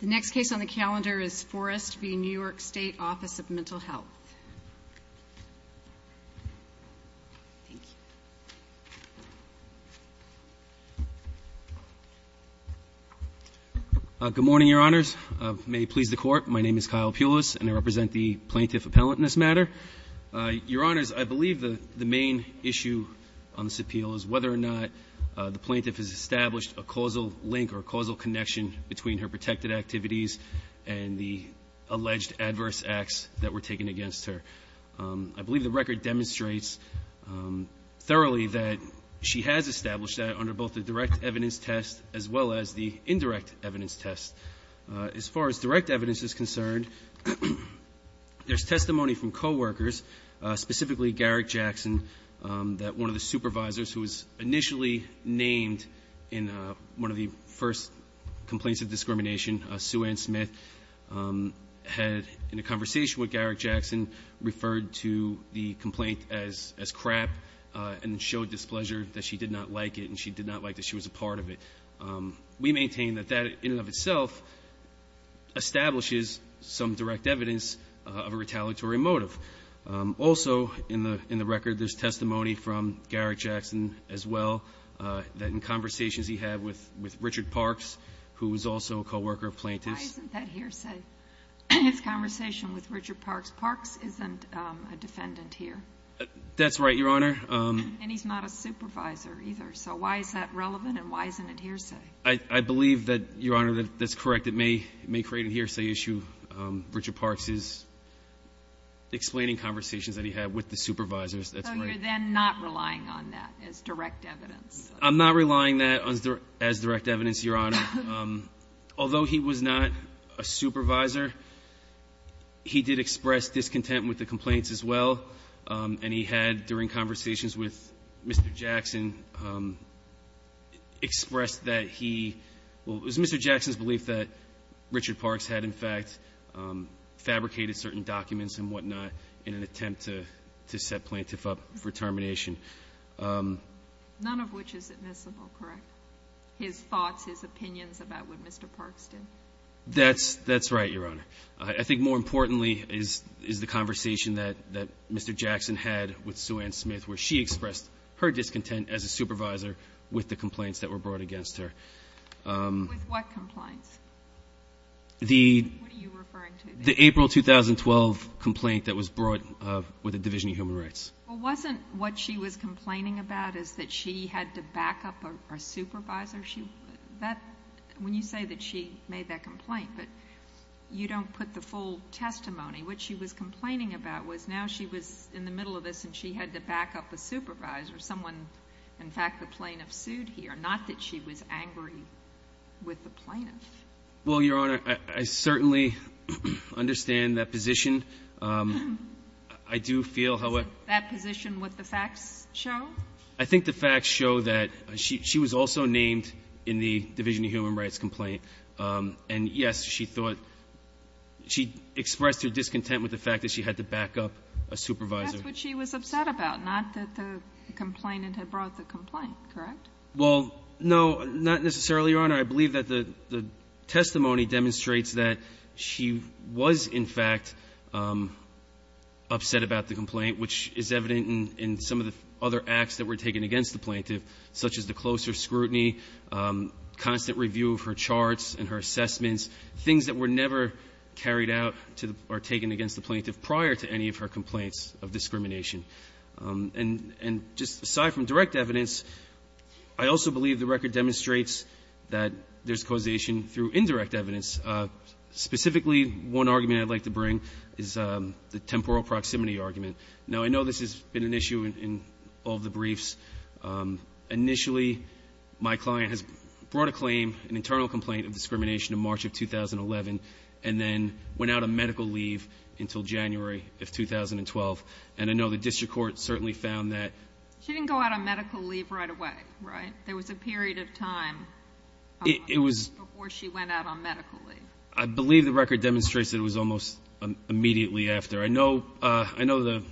The next case on the calendar is Forrest v. New York State Office of Mental Health. Good morning, Your Honors. May it please the Court, my name is Kyle Pulis and I represent the Plaintiff Appellant in this matter. Your Honors, I believe the main issue on this appeal is whether or not the Plaintiff has established a causal link or a causal connection between her protected activities and the alleged adverse acts that were taken against her. I believe the record demonstrates thoroughly that she has established that under both the direct evidence test as well as the indirect evidence test. As far as direct evidence is concerned, there's testimony from coworkers, specifically Garrick Jackson, that one of the supervisors who was initially named in one of the first complaints of discrimination, Sue Ann Smith, had, in a conversation with Garrick Jackson, referred to the complaint as crap and showed displeasure that she did not like it and she did not like that she was a part of it. We maintain that that, in and of itself, establishes some direct evidence of a retaliatory motive. Also, in the record, there's testimony from Garrick Jackson, as well, that in conversations he had with Richard Parks, who was also a coworker of Plaintiff's. Why isn't that hearsay? His conversation with Richard Parks. Parks isn't a defendant here. That's right, Your Honor. And he's not a supervisor, either. So why is that relevant and why isn't it hearsay? I believe that, Your Honor, that's correct. It may create a hearsay issue. Richard Parks is explaining conversations that he had with the supervisors. So you're then not relying on that as direct evidence? I'm not relying on that as direct evidence, Your Honor. Although he was not a supervisor, he did express discontent with the complaints, as well, and he had, during conversations with Mr. Jackson, expressed that he was Mr. Jackson's belief that Richard Parks had, in fact, fabricated certain documents and whatnot in an attempt to set Plaintiff up for termination. None of which is admissible, correct? His thoughts, his opinions about what Mr. Parks did? That's right, Your Honor. I think more importantly is the conversation that Mr. Jackson had with Sue Ann Smith, where she expressed her discontent as a supervisor with the complaints that were brought against her. With what complaints? The April 2012 complaint that was brought with the Division of Human Rights. Well, wasn't what she was complaining about is that she had to back up a supervisor? When you say that she made that complaint, but you don't put the full testimony. What she was complaining about was now she was in the middle of this and she had to back up a supervisor, someone, in fact, the plaintiff sued here, not that she was angry with the plaintiff. Well, Your Honor, I certainly understand that position. I do feel how it... Is that position what the facts show? I think the facts show that she was also named in the Division of Human Rights complaint. And, yes, she thought she expressed her discontent with the fact that she had to back up a supervisor. But that's what she was upset about, not that the complainant had brought the complaint, correct? Well, no, not necessarily, Your Honor. I believe that the testimony demonstrates that she was, in fact, upset about the complaint, which is evident in some of the other acts that were taken against the plaintiff, such as the closer scrutiny, constant review of her charts and her assessments, things that were never carried out or taken against the plaintiff prior to any of her complaints of discrimination. And just aside from direct evidence, I also believe the record demonstrates that there's causation through indirect evidence. Specifically, one argument I'd like to bring is the temporal proximity argument. Now, I know this has been an issue in all the briefs. Initially, my client has brought a claim, an internal complaint of discrimination in March of 2011 and then went out on medical leave until January of 2012. And I know the district court certainly found that. She didn't go out on medical leave right away, right? There was a period of time before she went out on medical leave. I believe the record demonstrates that it was almost immediately after. I know the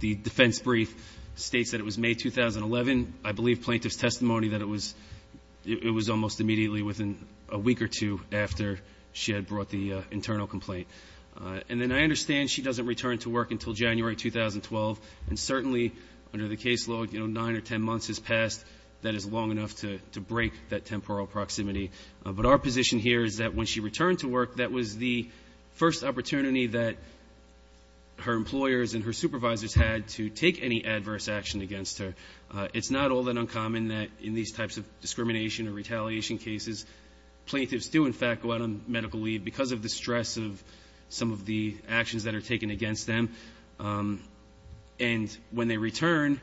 defense brief states that it was May 2011. I believe plaintiff's testimony that it was almost immediately within a week or two after she had brought the internal complaint. And then I understand she doesn't return to work until January 2012. And certainly, under the caseload, nine or ten months has passed. That is long enough to break that temporal proximity. But our position here is that when she returned to work, that was the first opportunity that her employers and her supervisors had to take any adverse action against her. It's not all that uncommon that in these types of discrimination or retaliation cases, plaintiffs do, in fact, go out on medical leave because of the stress of some of the actions that are taken against them. And when they return,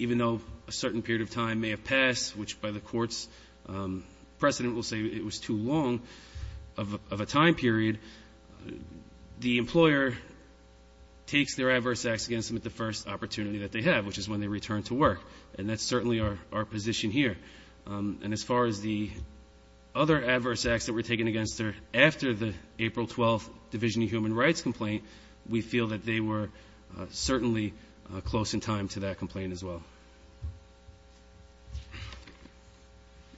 even though a certain period of time may have passed, which by the court's precedent will say it was too long of a time period, the employer takes their adverse acts against them at the first opportunity that they have, which is when they return to work. And that's certainly our position here. And as far as the other adverse acts that were taken against her after the April 12th Division of Human Rights complaint, we feel that they were certainly close in time to that complaint as well.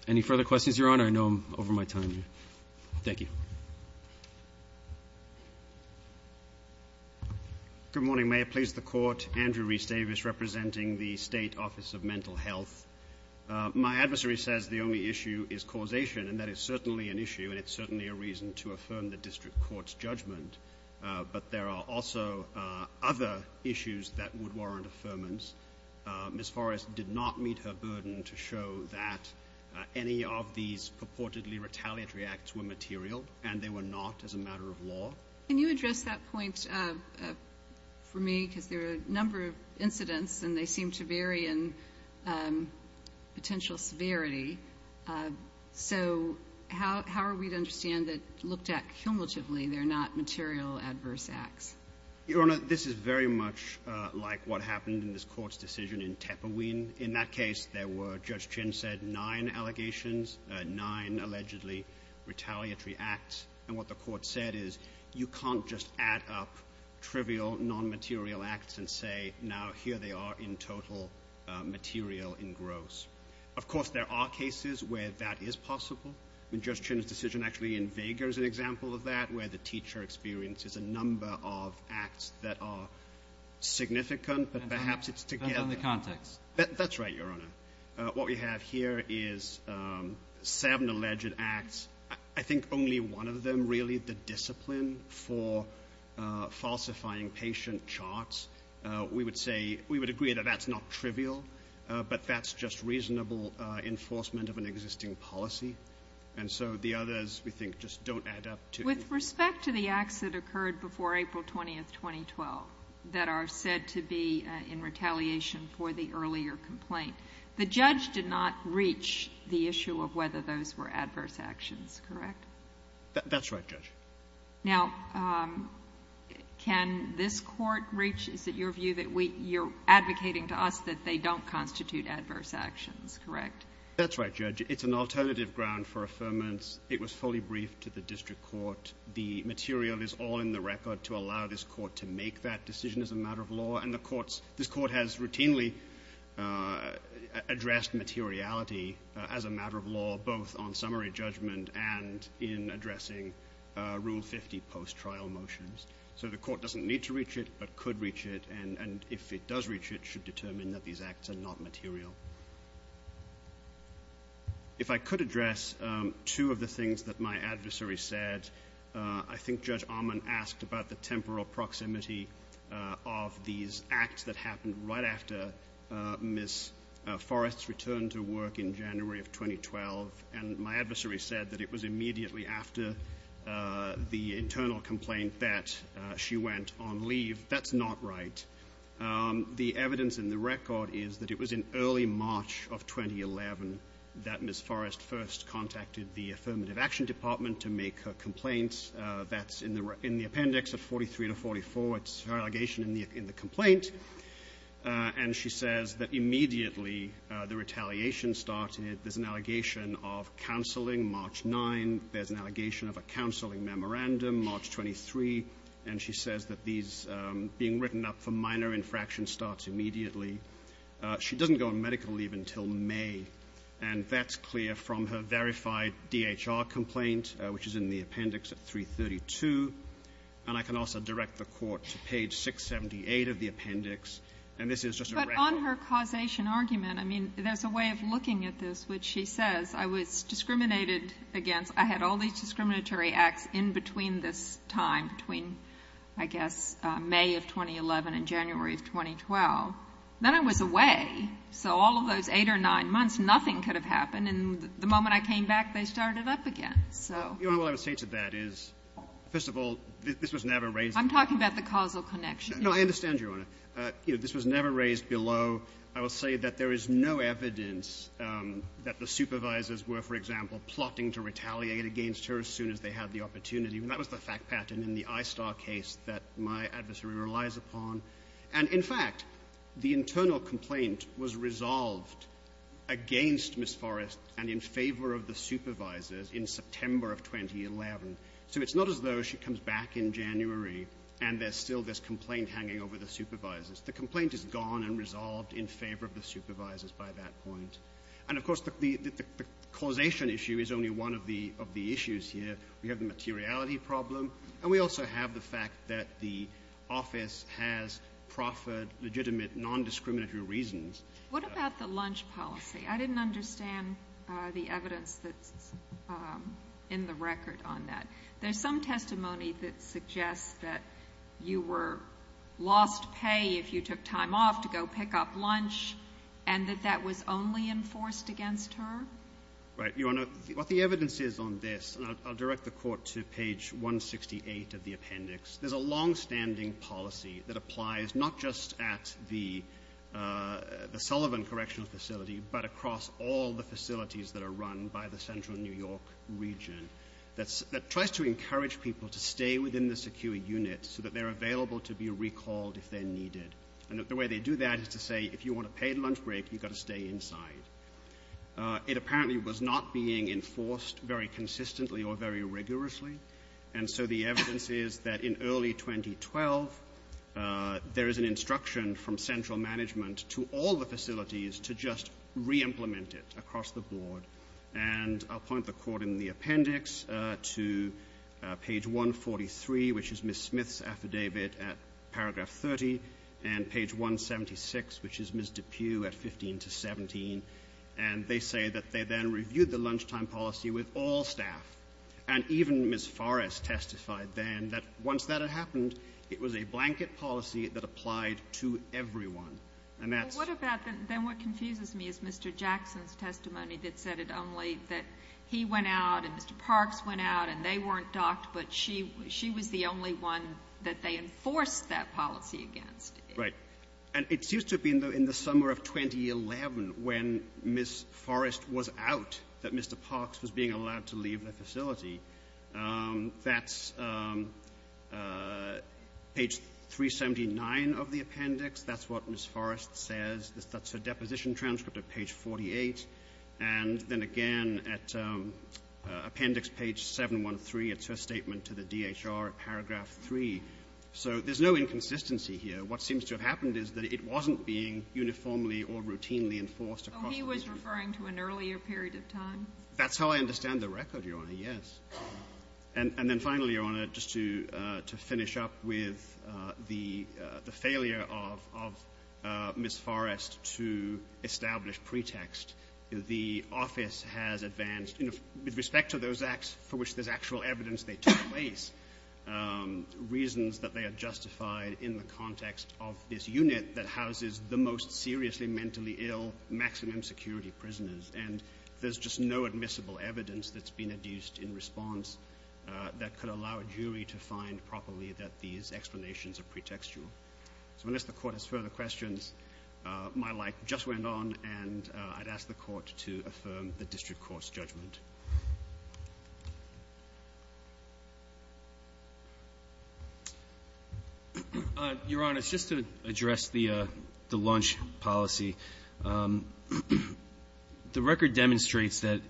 Any further questions, Your Honor? I know I'm over my time here. Thank you. Good morning. May it please the Court. Andrew Reece Davis representing the State Office of Mental Health. My adversary says the only issue is causation, and that is certainly an issue, and it's certainly a reason to affirm the district court's judgment. But there are also other issues that would warrant affirmance. Ms. Forrest did not meet her burden to show that any of these purportedly retaliatory acts were material, and they were not as a matter of law. Can you address that point for me? Because there are a number of incidents, and they seem to vary in potential severity. So how are we to understand that, looked at cumulatively, they're not material adverse acts? Your Honor, this is very much like what happened in this Court's decision in Tepperween. In that case, there were, Judge Chin said, nine allegations, nine allegedly retaliatory acts. And what the Court said is you can't just add up trivial, nonmaterial acts and say, now here they are in total material in gross. Of course, there are cases where that is possible. I mean, Judge Chin's decision actually in Vega is an example of that, where the teacher experiences a number of acts that are significant, but perhaps it's together. That's on the context. That's right, Your Honor. What we have here is seven alleged acts. I think only one of them really, the discipline for falsifying patient charts, we would say, we would agree that that's not trivial, but that's just reasonable enforcement of an existing policy. And so the others, we think, just don't add up to anything. With respect to the acts that occurred before April 20th, 2012, that are said to be in retaliation for the earlier complaint, the judge did not reach the issue of whether those were adverse actions, correct? That's right, Judge. Now, can this court reach, is it your view, that you're advocating to us that they don't constitute adverse actions, correct? That's right, Judge. It's an alternative ground for affirmance. It was fully briefed to the district court. The material is all in the record to allow this court to make that decision as a matter of law, both on summary judgment and in addressing Rule 50 post-trial motions. So the court doesn't need to reach it, but could reach it, and if it does reach it, should determine that these acts are not material. If I could address two of the things that my adversary said, I think Judge Ahman asked about the temporal proximity of these acts that happened right after Ms. Forrest's return to work in January of 2012, and my adversary said that it was immediately after the internal complaint that she went on leave. That's not right. The evidence in the record is that it was in early March of 2011 that Ms. Forrest first contacted the Affirmative Action Department to make her complaint. That's in the appendix of 43 to 44. It's her allegation in the complaint. And she says that immediately the retaliation started. There's an allegation of counseling March 9. There's an allegation of a counseling memorandum March 23, and she says that these being written up for minor infraction starts immediately. She doesn't go on medical leave until May, and that's clear from her verified DHR complaint, which is in the appendix at 332. And I can also direct the court to page 678 of the appendix. And this is just a record. But on her causation argument, I mean, there's a way of looking at this, which she says, I was discriminated against. I had all these discriminatory acts in between this time, between, I guess, May of 2011 and January of 2012. Then I was away. So all of those eight or nine months, nothing could have happened. And the moment I came back, they started up again. So what I would say to that is, first of all, this was never raised. I'm talking about the causal connection. No, I understand, Your Honor. This was never raised below. I will say that there is no evidence that the supervisors were, for example, plotting to retaliate against her as soon as they had the opportunity. And that was the fact pattern in the ISTAR case that my adversary relies upon. And, in fact, the internal complaint was resolved against Ms. Forrest and in favor of the supervisors in September of 2011. So it's not as though she comes back in January and there's still this complaint hanging over the supervisors. The complaint is gone and resolved in favor of the supervisors by that point. And, of course, the causation issue is only one of the issues here. We have the materiality problem. And we also have the fact that the office has proffered legitimate nondiscriminatory reasons. What about the lunch policy? I didn't understand the evidence that's in the record on that. There's some testimony that suggests that you were lost pay if you took time off to go pick up lunch, and that that was only enforced against her? Right, Your Honor. What the evidence is on this, and I'll direct the Court to page 168 of the appendix, there's a longstanding policy that applies not just at the Sullivan Correctional Facility, but across all the facilities that are run by the Central New York region that tries to encourage people to stay within the secure unit so that they're available to be recalled if they're needed. And the way they do that is to say if you want a paid lunch break, you've got to stay inside. It apparently was not being enforced very consistently or very rigorously. And so the evidence is that in early 2012, there is an instruction from central management to all the facilities to just reimplement it across the board. And I'll point the Court in the appendix to page 143, which is Ms. Smith's affidavit at paragraph 30, and page 176, which is Ms. DePue at 15 to 17. And they say that they then reviewed the lunchtime policy with all staff. And even Ms. Forrest testified then that once that had happened, it was a blanket policy that applied to everyone. And that's — Well, what about then what confuses me is Mr. Jackson's testimony that said it only that he went out and Mr. Parks went out and they weren't docked, but she was the only one that they enforced that policy against. Right. And it seems to have been in the summer of 2011 when Ms. Forrest was out, that Mr. Parks was being allowed to leave the facility. That's page 379 of the appendix. That's what Ms. Forrest says. That's her deposition transcript at page 48. And then again, at appendix page 713, it's her statement to the DHR at paragraph 3. So there's no inconsistency here. What seems to have happened is that it wasn't being uniformly or routinely enforced across the board. So he was referring to an earlier period of time? That's how I understand the record, Your Honor, yes. And then finally, Your Honor, just to finish up with the failure of Ms. Forrest to establish pretext, the office has advanced, with respect to those acts for which there's actual evidence they took place, reasons that they are justified in the context of this unit that houses the most seriously mentally ill maximum security prisoners. And there's just no admissible evidence that's been adduced in response that could allow a jury to find properly that these explanations are pretextual. So unless the Court has further questions, my light just went on, and I'd ask the Court to affirm the district court's judgment. Your Honor, just to address the launch policy, the record demonstrates that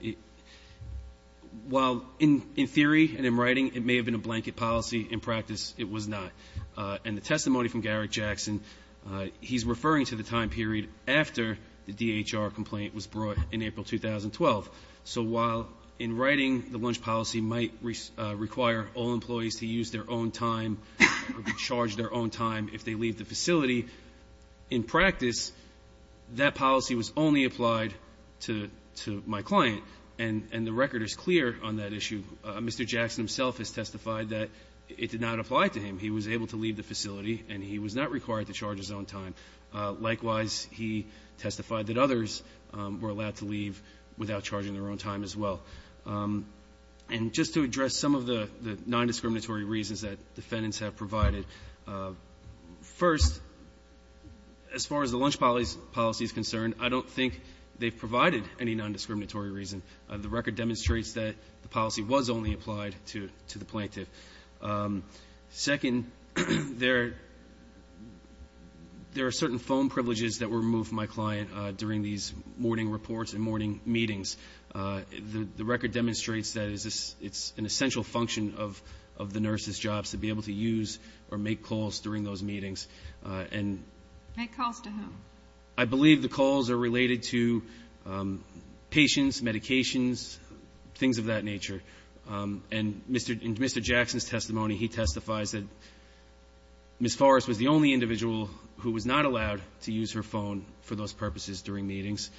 while in theory and in writing it may have been a blanket policy, in practice it was not. And the testimony from Garrick Jackson, he's referring to the time period after the DHR complaint was brought in April 2012. So while in writing the launch policy might require all employees to use their own time or be charged their own time if they leave the facility, in practice, that policy was only applied to my client. And the record is clear on that issue. Mr. Jackson himself has testified that it did not apply to him. He was able to leave the facility, and he was not required to charge his own time. Likewise, he testified that others were allowed to leave without charging their own time as well. And just to address some of the nondiscriminatory reasons that defendants have provided, first, as far as the launch policy is concerned, I don't think they've provided any nondiscriminatory reason. The record demonstrates that the policy was only applied to the plaintiff. Second, there are certain phone privileges that were removed from my client during these morning reports and morning meetings. The record demonstrates that it's an essential function of the nurse's job to be able to use or make calls during those meetings. And ---- Make calls to whom? I believe the calls are related to patients, medications, things of that nature. And Mr. Jackson's testimony, he testifies that Ms. Forrest was the only individual who was not allowed to use her phone for those purposes during meetings.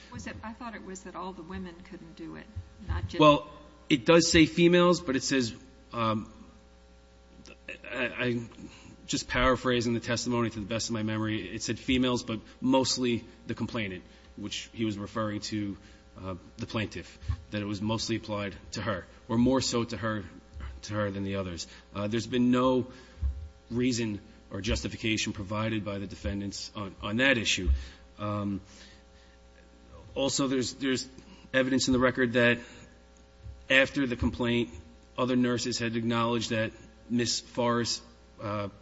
I thought it was that all the women couldn't do it, not just ---- Well, it does say females, but it says ---- I'm just paraphrasing the testimony to the best of my memory. It said females, but mostly the complainant, which he was referring to the plaintiff, that it was mostly applied to her, or more so to her than the others. There's been no reason or justification provided by the defendants on that issue. Also, there's evidence in the record that after the complaint, other nurses had acknowledged that Ms. Forrest's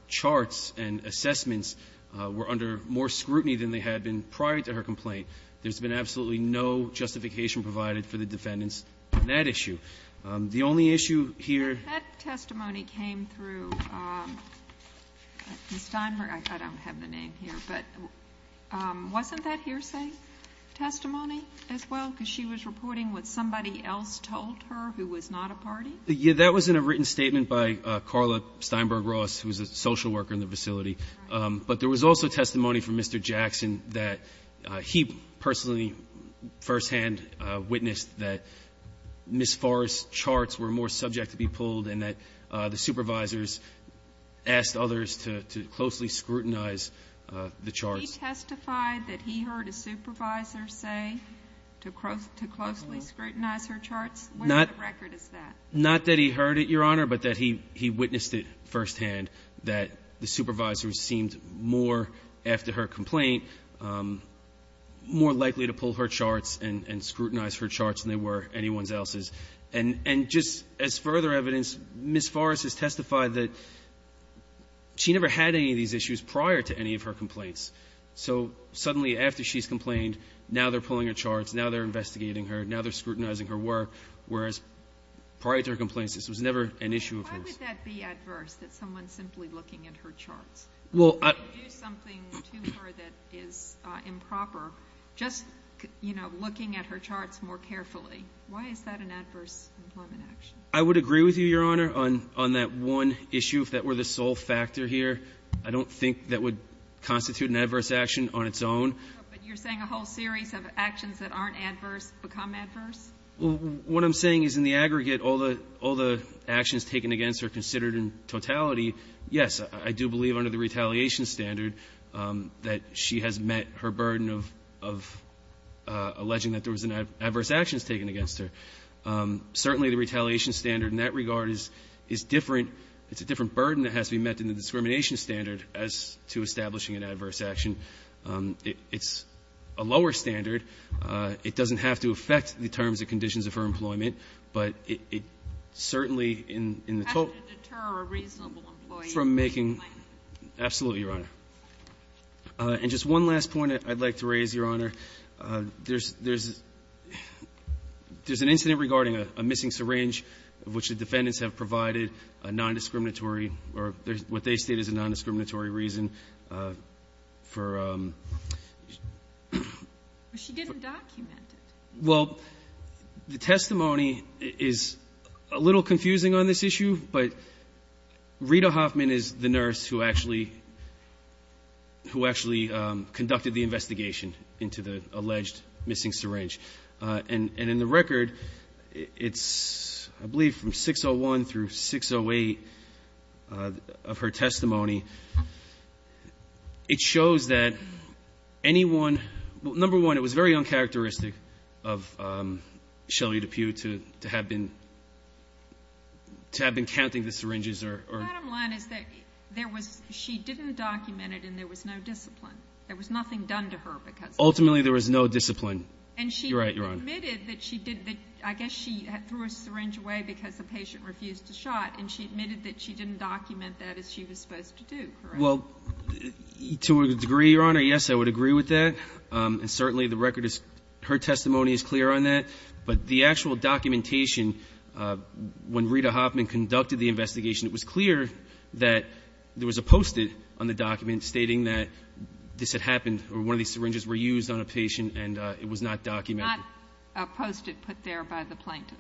charts and assessments were under more scrutiny than they had been prior to her complaint. There's been absolutely no justification provided for the defendants on that issue. The only issue here ---- That testimony came through Steinberg. I don't have the name here. But wasn't that hearsay testimony as well, because she was reporting what somebody else told her who was not a party? Yeah. That was in a written statement by Carla Steinberg Ross, who was a social worker in the facility. But there was also testimony from Mr. Jackson that he personally firsthand witnessed that Ms. Forrest's charts were more subject to be pulled and that the supervisors asked others to closely scrutinize the charts. He testified that he heard a supervisor say to closely scrutinize her charts? Where in the record is that? Not that he heard it, Your Honor, but that he witnessed it firsthand, that the supervisor seemed more, after her complaint, more likely to pull her charts and scrutinize her charts than they were anyone else's. And just as further evidence, Ms. Forrest has testified that she never had any of these issues prior to any of her complaints. So suddenly, after she's complained, now they're pulling her charts, now they're investigating her, now they're scrutinizing her work, whereas prior to her complaints, this was never an issue of hers. Why would that be adverse, that someone simply looking at her charts? Well, I — They do something to her that is improper. Just, you know, looking at her charts more carefully, why is that an adverse employment action? I would agree with you, Your Honor, on that one issue, if that were the sole factor here. I don't think that would constitute an adverse action on its own. But you're saying a whole series of actions that aren't adverse become adverse? Well, what I'm saying is in the aggregate, all the actions taken against her considered in totality, yes, I do believe under the retaliation standard that she has met her burden of alleging that there was adverse actions taken against her. Certainly, the retaliation standard in that regard is different. It's a different burden that has to be met than the discrimination standard as to establishing an adverse action. It's a lower standard. It doesn't have to affect the terms and conditions of her employment, but it certainly in the total — Has it to deter a reasonable employee from filing? Absolutely, Your Honor. And just one last point I'd like to raise, Your Honor. There's an incident regarding a missing syringe of which the defendants have provided a nondiscriminatory or what they state is a nondiscriminatory reason for — She didn't document it. Well, the testimony is a little confusing on this issue, but Rita Hoffman is the nurse who actually conducted the investigation into the alleged missing syringe. And in the record, it's I believe from 601 through 608 of her testimony, it shows that anyone — number one, it was very uncharacteristic of Shelley DePue to have been counting the syringes. Bottom line is that there was — she didn't document it and there was no discipline. There was nothing done to her because of that. Ultimately, there was no discipline. You're right, Your Honor. And she admitted that she did — I guess she threw a syringe away because the patient refused to shot, and she admitted that she didn't document that as she was supposed to do, correct? Well, to a degree, Your Honor, yes, I would agree with that. And certainly the record is — her testimony is clear on that. But the actual documentation, when Rita Hoffman conducted the investigation, it was clear that there was a post-it on the document stating that this had happened or one of these syringes were used on a patient and it was not documented. Not a post-it put there by the plaintiff?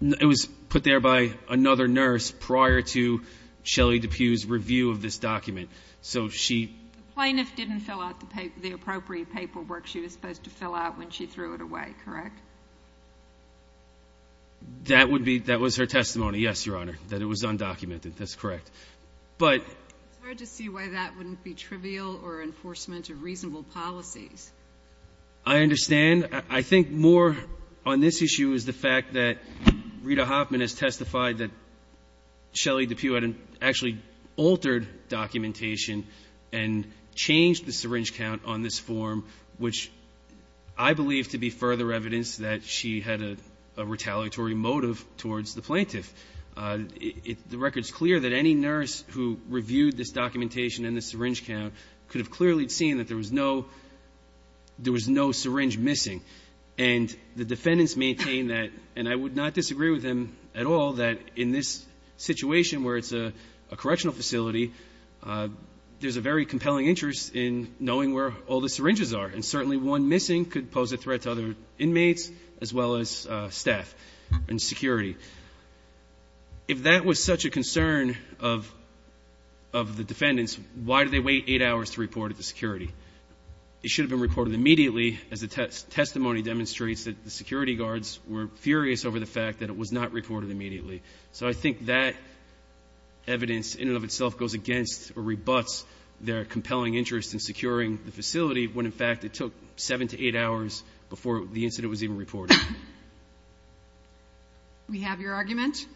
It was put there by another nurse prior to Shelley DePue's review of this document. So she — The plaintiff didn't fill out the appropriate paperwork she was supposed to fill out when she threw it away, correct? That would be — that was her testimony, yes, Your Honor, that it was undocumented. That's correct. But — It's hard to see why that wouldn't be trivial or enforcement of reasonable policies. I understand. I think more on this issue is the fact that Rita Hoffman has testified that Shelley DePue had actually altered documentation and changed the syringe count on this form, which I believe to be further evidence that she had a retaliatory motive towards the plaintiff. The record is clear that any nurse who reviewed this documentation and the syringe count could have clearly seen that there was no syringe missing. And the defendants maintain that, and I would not disagree with them at all, that in this situation where it's a correctional facility, there's a very compelling interest in knowing where all the syringes are. And certainly one missing could pose a threat to other inmates as well as staff and security. If that was such a concern of the defendants, why did they wait eight hours to report it to security? It should have been reported immediately, as the testimony demonstrates that the security guards were furious over the fact that it was not reported immediately. So I think that evidence in and of itself goes against or rebuts their compelling interest in securing the facility when, in fact, it took seven to eight hours before the incident was even reported. We have your argument.